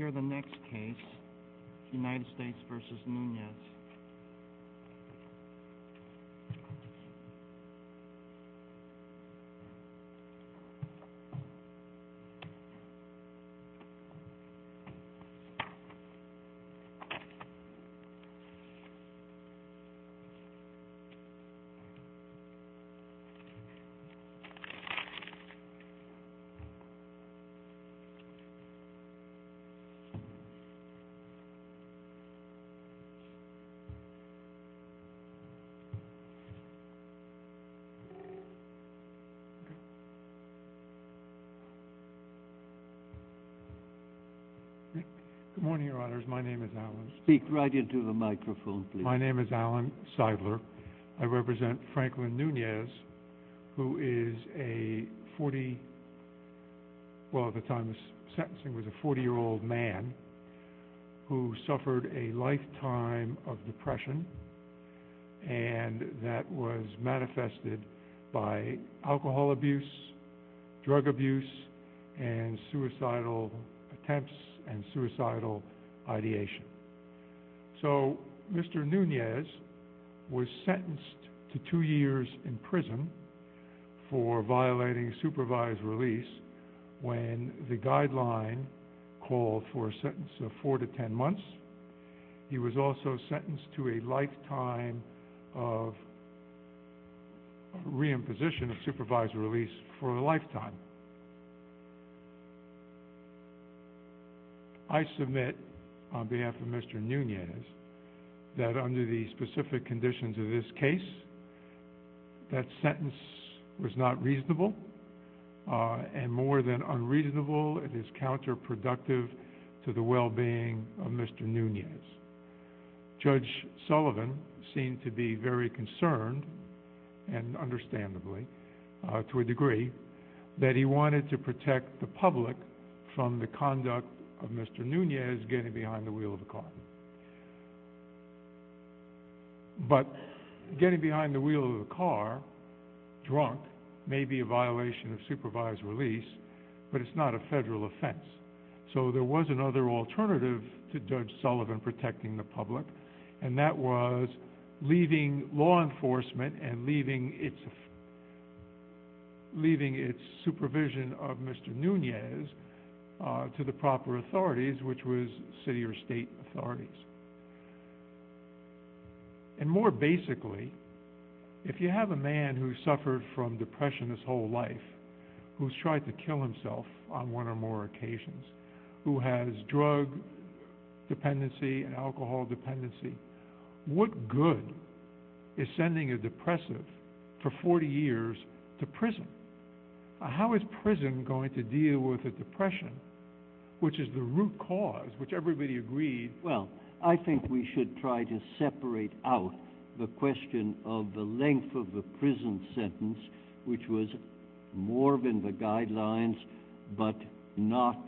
Let's hear the next case, United States v. Nunez. Good morning, Your Honors. My name is Alan Seidler. I represent Franklin Nunez, who is a 40-year-old man who suffered a lifetime of depression, and that was manifested by alcohol abuse, drug abuse, and suicidal attempts and suicidal ideation. So Mr. Nunez was sentenced to two years in prison for violating supervised release when the guideline called for a sentence of four to ten months. He was also sentenced to a lifetime of reimposition of supervised release for a lifetime. I submit on behalf of Mr. Nunez that under the specific conditions of this case, that sentence was not reasonable, and more than unreasonable, it is counterproductive to the well-being of Mr. Nunez. Judge Sullivan seemed to be very concerned, and understandably, to a degree, that he wanted to protect the public from the conduct of Mr. Nunez getting behind the wheel of a car. But getting behind the wheel of a car, drunk, may be a violation of supervised release, but it's not a federal offense. So there was another alternative to Judge Sullivan protecting the public, and that was leaving law enforcement and leaving its supervision of Mr. Nunez to the proper authorities, which was city or state authorities. And more basically, if you have a man who suffered from depression his whole life, who's tried to kill himself on one or more occasions, who has drug dependency and alcohol dependency, what good is sending a depressive for 40 years to prison? How is prison going to deal with a depression, which is the root cause, which everybody agreed... Well, I think we should try to separate out the question of the length of the prison sentence, which was more than the guidelines, but not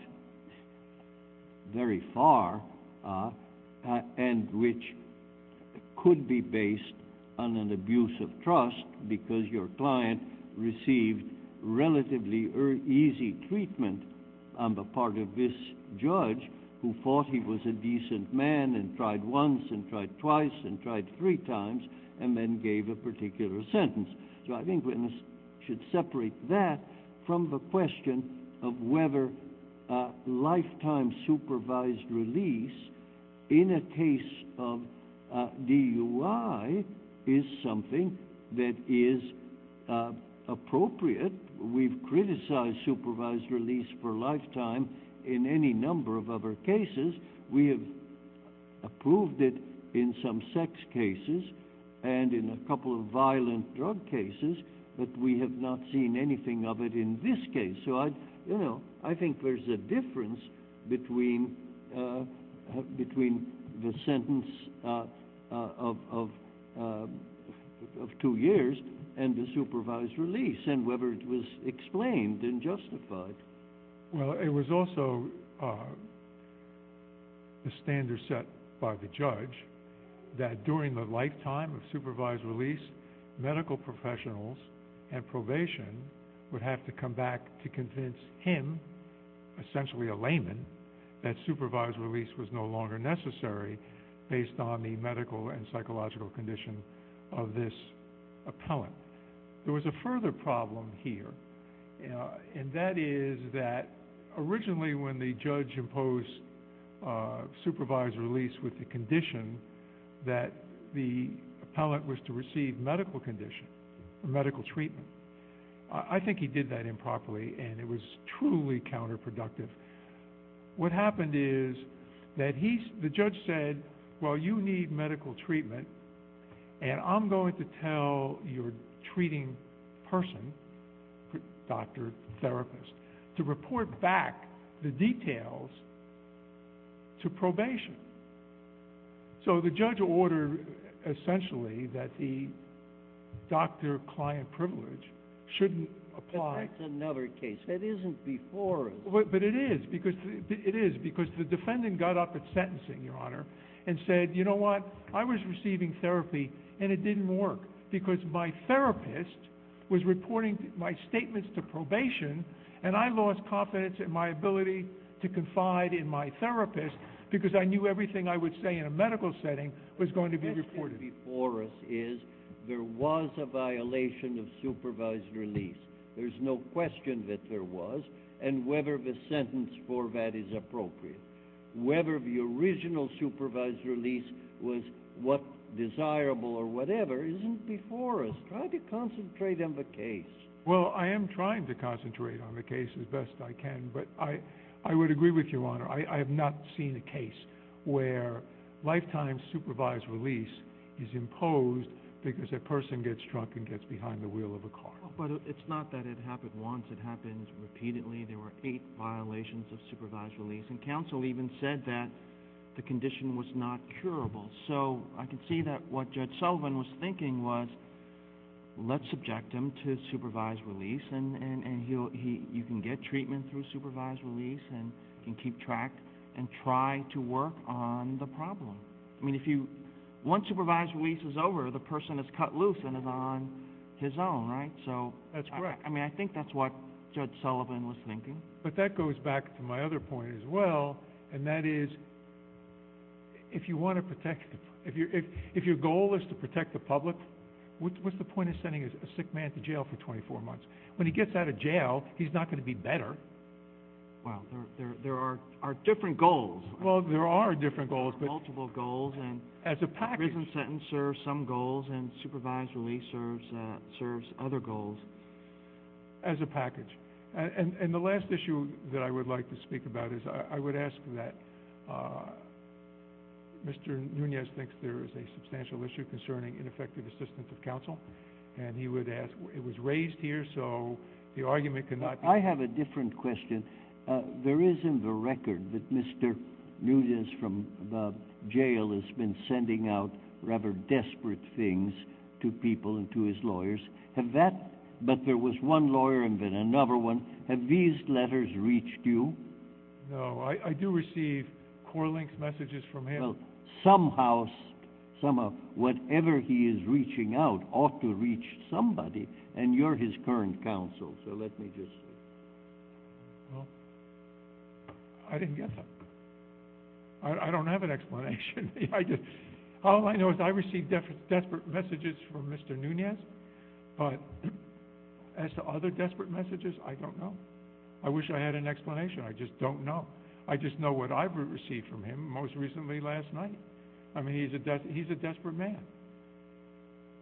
very far, and which could be based on an abuse of trust, because your client received relatively easy treatment on the part of this judge, who thought he was a decent man, and tried once and tried twice and tried three times, and then gave a particular sentence. So I think we should separate that from the question of whether lifetime supervised release in a case of DUI is something that is appropriate. We've criticized supervised release for a lifetime in any number of other cases. We have approved it in some sex cases and in a couple of violent drug cases, but we have not seen anything of it in this case. So I think there's a difference between the sentence of two years and the supervised release, and whether it was explained and justified. Well, it was also a standard set by the judge that during the lifetime of supervised release, medical professionals and probation would have to come back to convince him, essentially a layman, that supervised release was no longer necessary based on the medical and psychological condition of this appellant. There was a further problem here, and that is that originally when the judge imposed supervised release with the condition that the appellant was to receive medical treatment, I think he did that improperly, and it was truly counterproductive. What happened is that the judge said, well, you need medical treatment, and I'm going to tell your treating person, doctor, therapist, to report back the details to probation. So the judge ordered, essentially, that the doctor-client privilege shouldn't apply. But that's another case. That isn't before us. But it is, because the defendant got up at sentencing, Your Honor, and said, you know what, I was receiving therapy, and it didn't work, because my therapist was reporting my statements to probation, and I lost confidence in my ability to confide in my therapist, because I knew everything I would say in a medical setting was going to be reported. What's before us is there was a violation of supervised release. There's no question that there was, and whether the sentence for that is appropriate. Whether the original supervised release was what's desirable or whatever isn't before us. Try to concentrate on the case. Well, I am trying to concentrate on the case as best I can, but I would agree with you, Your Honor. I have not seen a case where lifetime supervised release is imposed because a person gets drunk and gets behind the wheel of a car. But it's not that it happened once. It happens repeatedly. There were eight violations of supervised release, and counsel even said that the condition was not curable. So I can see that what Judge Sullivan was thinking was, let's subject him to supervised release, and you can get treatment through supervised release, and you can keep track and try to work on the problem. I mean, if you, once supervised release is over, the person is cut loose and is on his own, right? That's correct. I mean, I think that's what Judge Sullivan was thinking. But that goes back to my other point as well, and that is, if you want to protect, if your goal is to protect the public, what's the point of sending a sick man to jail for 24 months? When he gets out of jail, he's not going to be better. Well, there are different goals. Well, there are different goals. Multiple goals. As a package. Prison sentence serves some goals, and supervised release serves other goals. As a package. And the last issue that I would like to speak about is, I would ask that, Mr. Nunez thinks there is a substantial issue concerning ineffective assistance of counsel, and he would ask, it was raised here, so the argument could not be... I have a different question. There is in the record that Mr. Nunez from the jail has been sending out rather desperate things to people and to his lawyers. But there was one lawyer and then another one. Have these letters reached you? No. I do receive core links, messages from him. Well, somehow, whatever he is reaching out ought to reach somebody, and you're his current counsel, so let me just... Well, I didn't get that. I don't have an explanation. All I know is I received desperate messages from Mr. Nunez, but as to other desperate messages, I don't know. I wish I had an explanation. I just don't know. I just know what I've received from him most recently last night. I mean, he's a desperate man.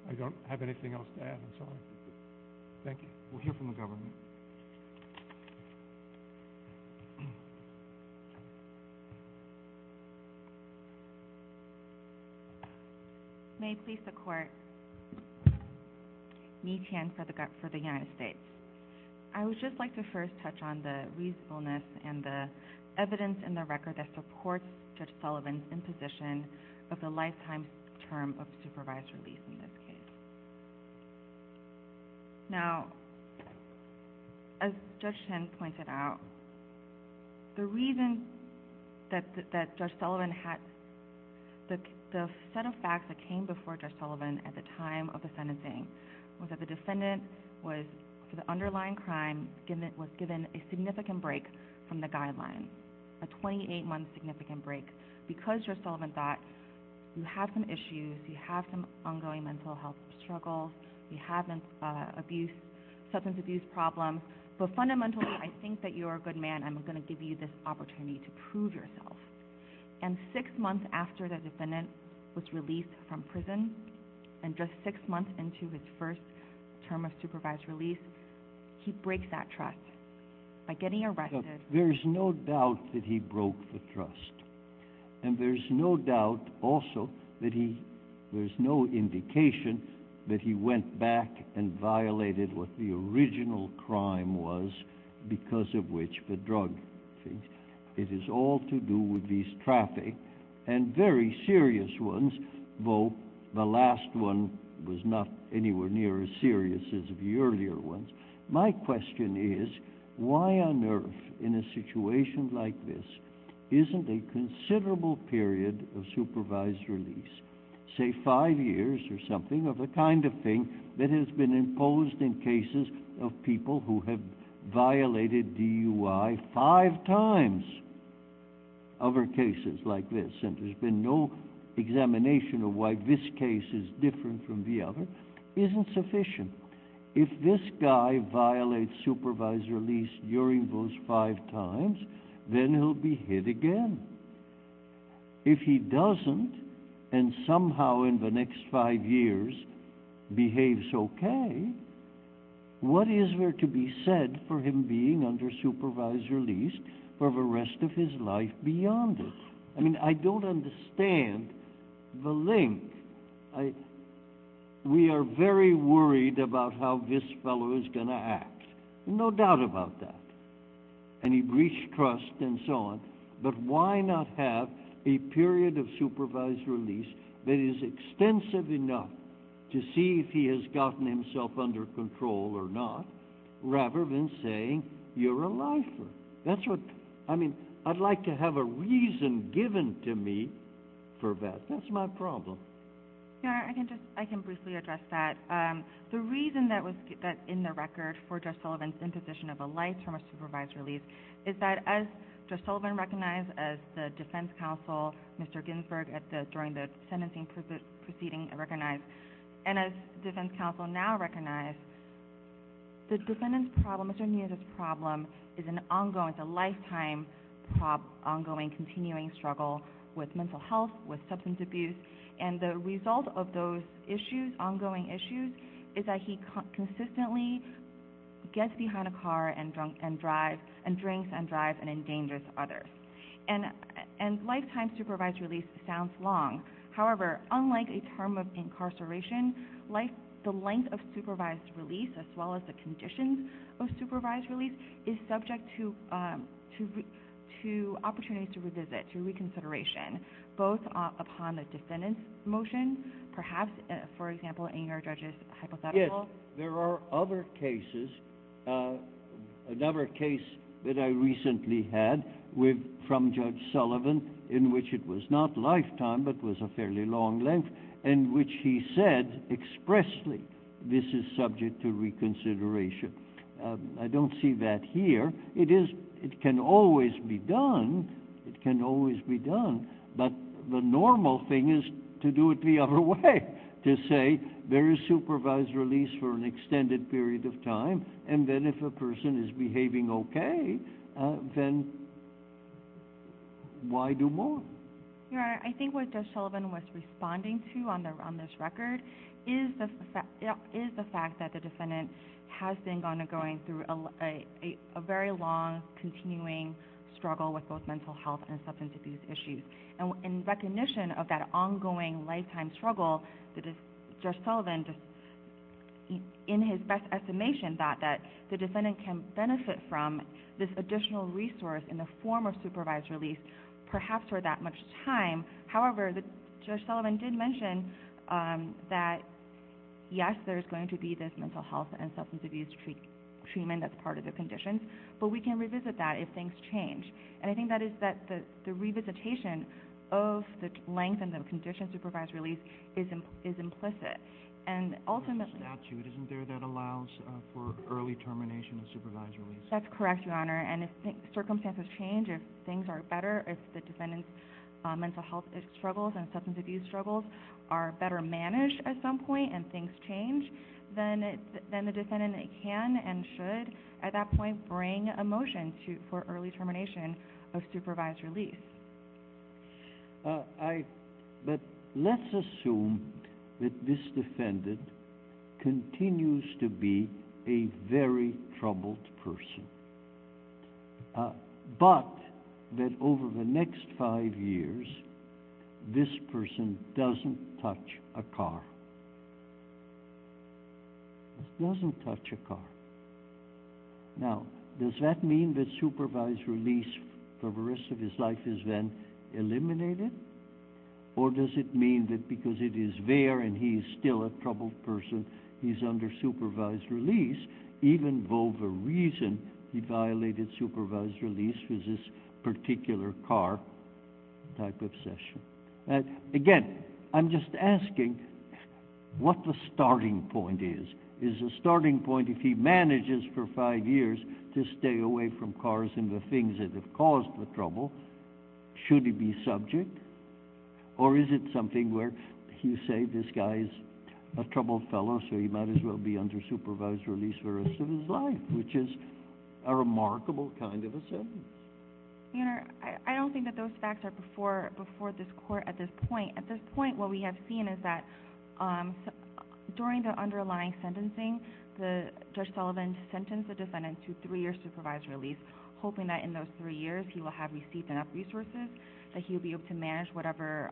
I don't have anything else to add, I'm sorry. Thank you. We'll hear from the government. May it please the court. Ni Tian for the United States. I would just like to first touch on the reasonableness and the evidence in the record that supports Judge Sullivan's imposition of the lifetime term of supervised release in this case. Now, as Judge Chen pointed out, the reason that Judge Sullivan had... The set of facts that came before Judge Sullivan at the time of the sentencing was that the defendant was, for the underlying crime, was given a significant break from the guidelines, a 28-month significant break. Because, Judge Sullivan thought, you have some issues, you have some ongoing mental health struggles, you have substance abuse problems, but fundamentally, I think that you're a good man. I'm going to give you this opportunity to prove yourself. And six months after the defendant was released from prison, and just six months into his first term of supervised release, he breaks that trust by getting arrested. There's no doubt that he broke the trust. And there's no doubt, also, that he... There's no indication that he went back and violated what the original crime was, because of which the drug thing. It is all to do with these traffic, and very serious ones, though the last one was not anywhere near as serious as the earlier ones. My question is, why on earth, in a situation like this, isn't a considerable period of supervised release, say five years or something, of the kind of thing that has been imposed in cases of people who have violated DUI five times? Other cases like this, and there's been no examination of why this case is different from the other, isn't sufficient. If this guy violates supervised release during those five times, then he'll be hit again. If he doesn't, and somehow in the next five years behaves okay, what is there to be said for him being under supervised release for the rest of his life beyond it? I mean, I don't understand the link. We are very worried about how this fellow is going to act. No doubt about that. And he breached trust and so on. But why not have a period of supervised release that is extensive enough to see if he has gotten himself under control or not, rather than saying, you're a lifer. That's what, I mean, I'd like to have a reason given to me for that. That's my problem. I can briefly address that. The reason that was in the record for Judge Sullivan's imposition of a life term of supervised release is that as Judge Sullivan recognized as the defense counsel, Mr. Ginsburg during the sentencing proceeding recognized, and as defense counsel now recognized, the defendant's problem, Mr. Nunez's problem, is an ongoing, a lifetime ongoing, continuing struggle with mental health, with substance abuse. And the result of those issues, ongoing issues, is that he consistently gets behind a car and drinks and drives and endangers others. And lifetime supervised release sounds long. However, unlike a term of incarceration, the length of supervised release, as well as the length of a life term of supervised release, both upon the defendant's motion, perhaps, for example, in your judge's hypothetical. Yes. There are other cases, another case that I recently had with, from Judge Sullivan, in which it was not lifetime, but was a fairly long length, in which he said expressly, this is subject to reconsideration. I don't see that here. It is, it can always be done. It can always be done. But the normal thing is to do it the other way, to say there is supervised release for an extended period of time, and then if a person is behaving okay, then why do more? Your Honor, I think what Judge Sullivan was responding to on this record is the fact that the defendant has been going through a very long, continuing struggle with both mental health and substance abuse issues. And in recognition of that ongoing lifetime struggle, Judge Sullivan, in his best estimation, thought that the defendant can benefit from this additional resource in the form of supervised release, perhaps for that much time. However, Judge Sullivan did mention that, yes, there's going to be this mental health and substance abuse treatment that's part of the conditions, but we can revisit that if things change. And I think that is that the revisitation of the length and the conditions of supervised release is implicit. And ultimately... There's a statute, isn't there, that allows for early termination of supervised release? That's correct, Your Honor, and if circumstances change, if things are better, if the defendant's mental health struggles and substance abuse struggles are better managed at some point and things change, then the defendant can and should, at that point, bring a motion for early termination of supervised release. But let's assume that this defendant continues to be a very troubled person, but that over the next five years, this person doesn't touch a car. Doesn't touch a car. Now, does that mean that supervised release for the rest of his life is then eliminated? Or does it mean that because it is there and he is still a troubled person, he's under supervised release, even though the reason he violated supervised release was this particular car type of session? Again, I'm just asking what the starting point is. Is the starting point, if he manages for five years to stay away from cars and the things that have caused the trouble, should he be subject? Or is it something where you say this guy's a troubled fellow, so he might as well be under supervised release for the rest of his life, which is a remarkable kind of a sentence? Your Honor, I don't think that those facts are before this Court at this point. At this point, what we have seen is that during the underlying sentencing, Judge Sullivan sentenced the defendant to three years supervised release, hoping that in those three years he will have received enough resources that he'll be able to manage whatever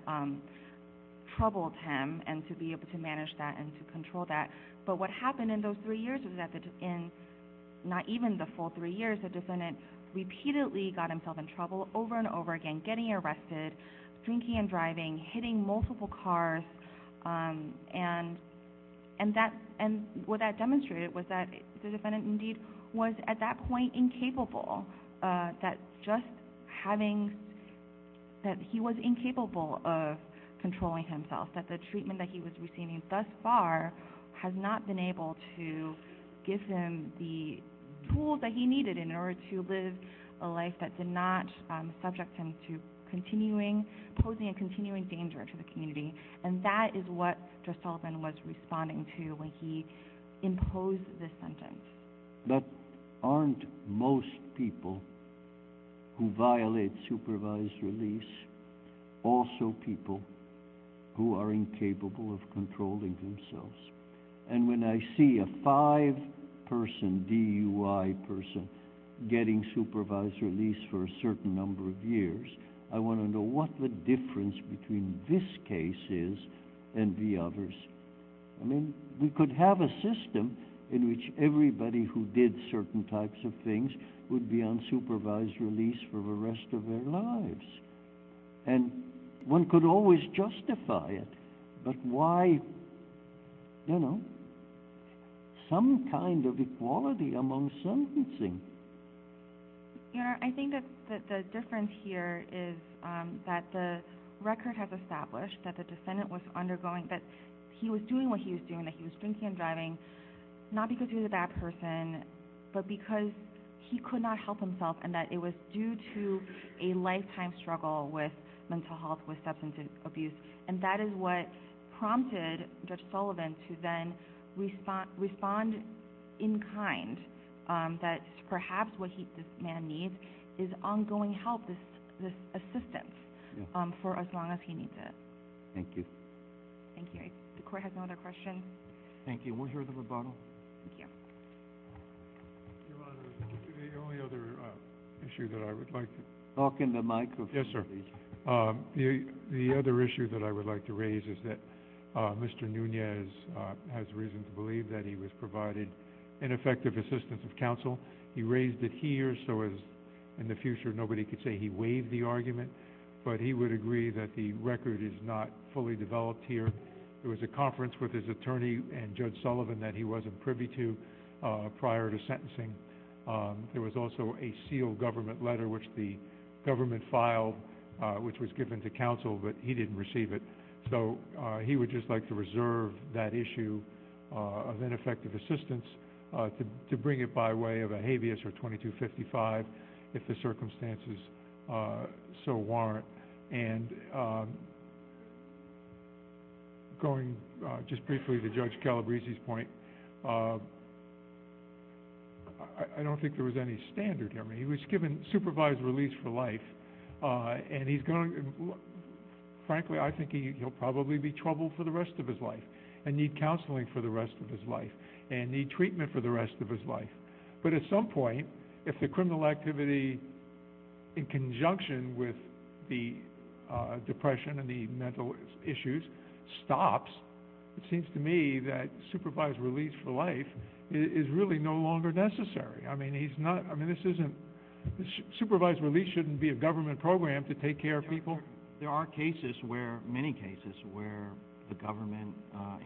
troubled him, and to be able to manage that and to control that. But what happened in those three years is that in not even the full three years, the defendant got himself in trouble over and over again, getting arrested, drinking and driving, hitting multiple cars. And what that demonstrated was that the defendant, indeed, was at that point incapable, that just having – that he was incapable of controlling himself, that the treatment that he was receiving thus far has not been able to give him the tools that he needed in order to live a life that did not subject him to continuing – posing a continuing danger to the community. And that is what Judge Sullivan was responding to when he imposed this sentence. But aren't most people who violate supervised release also people who are incapable of controlling themselves? And when I see a five-person DUI person getting supervised release for a certain number of years, I want to know what the difference between this case is and the others. I mean, we could have a system in which everybody who did certain types of things would be on supervised release for the rest of their lives. And one could always justify it. But why, you know, some kind of equality among sentencing? You know, I think that the difference here is that the record has established that the defendant was undergoing – that he was doing what he was doing, that he was drinking and driving, not because he was a bad person, but because he could not help himself and that it was due to a lifetime struggle with mental health, with substance abuse. And that is what prompted Judge Sullivan to then respond in kind that perhaps what this man needs is ongoing help, this assistance, for as long as he needs it. Thank you. Thank you. The court has no other questions. Thank you. And we'll hear the rebuttal. Thank you. Your Honor, the only other issue that I would like to – Talk in the microphone, please. Yes, sir. The other issue that I would like to raise is that Mr. Nunez has reason to believe that he was provided ineffective assistance of counsel. He raised it here so as in the future nobody could say he waived the argument. But he would agree that the record is not fully developed here. There was a conference with his attorney and Judge Sullivan that he wasn't privy to prior to sentencing. There was also a sealed government letter which the government filed, which was given to counsel, but he didn't receive it. So he would just like to reserve that issue of ineffective assistance to bring it by way of a habeas or 2255 if the circumstances so warrant. And going just briefly to Judge Calabrese's point, I don't think there was any standard. I mean, he was given supervised release for life, and he's going – frankly, I think he'll probably be troubled for the rest of his life and need counseling for the rest of his life and need treatment for the rest of his life. But at some point, if the criminal activity in conjunction with the depression and the mental issues stops, it seems to me that supervised release for life is really no longer necessary. I mean, he's not – I mean, this isn't – supervised release shouldn't be a government program to take care of people. There are cases where – many cases where the government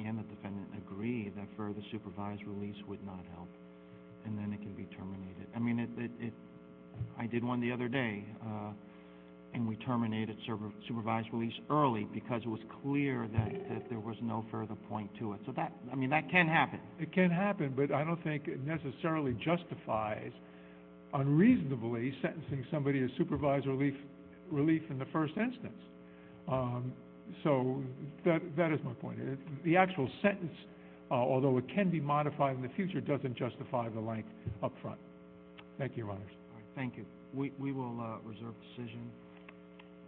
and the defendant agree that supervised release would not help, and then it can be terminated. I mean, it – I did one the other day, and we terminated supervised release early because it was clear that there was no further point to it. So that – I mean, that can happen. It can happen, but I don't think it necessarily justifies unreasonably sentencing somebody to supervised relief in the first instance. So that is my point. The actual sentence, although it can be modified in the future, doesn't justify the length up front. Thank you, Your Honors. Thank you. We will reserve the decision.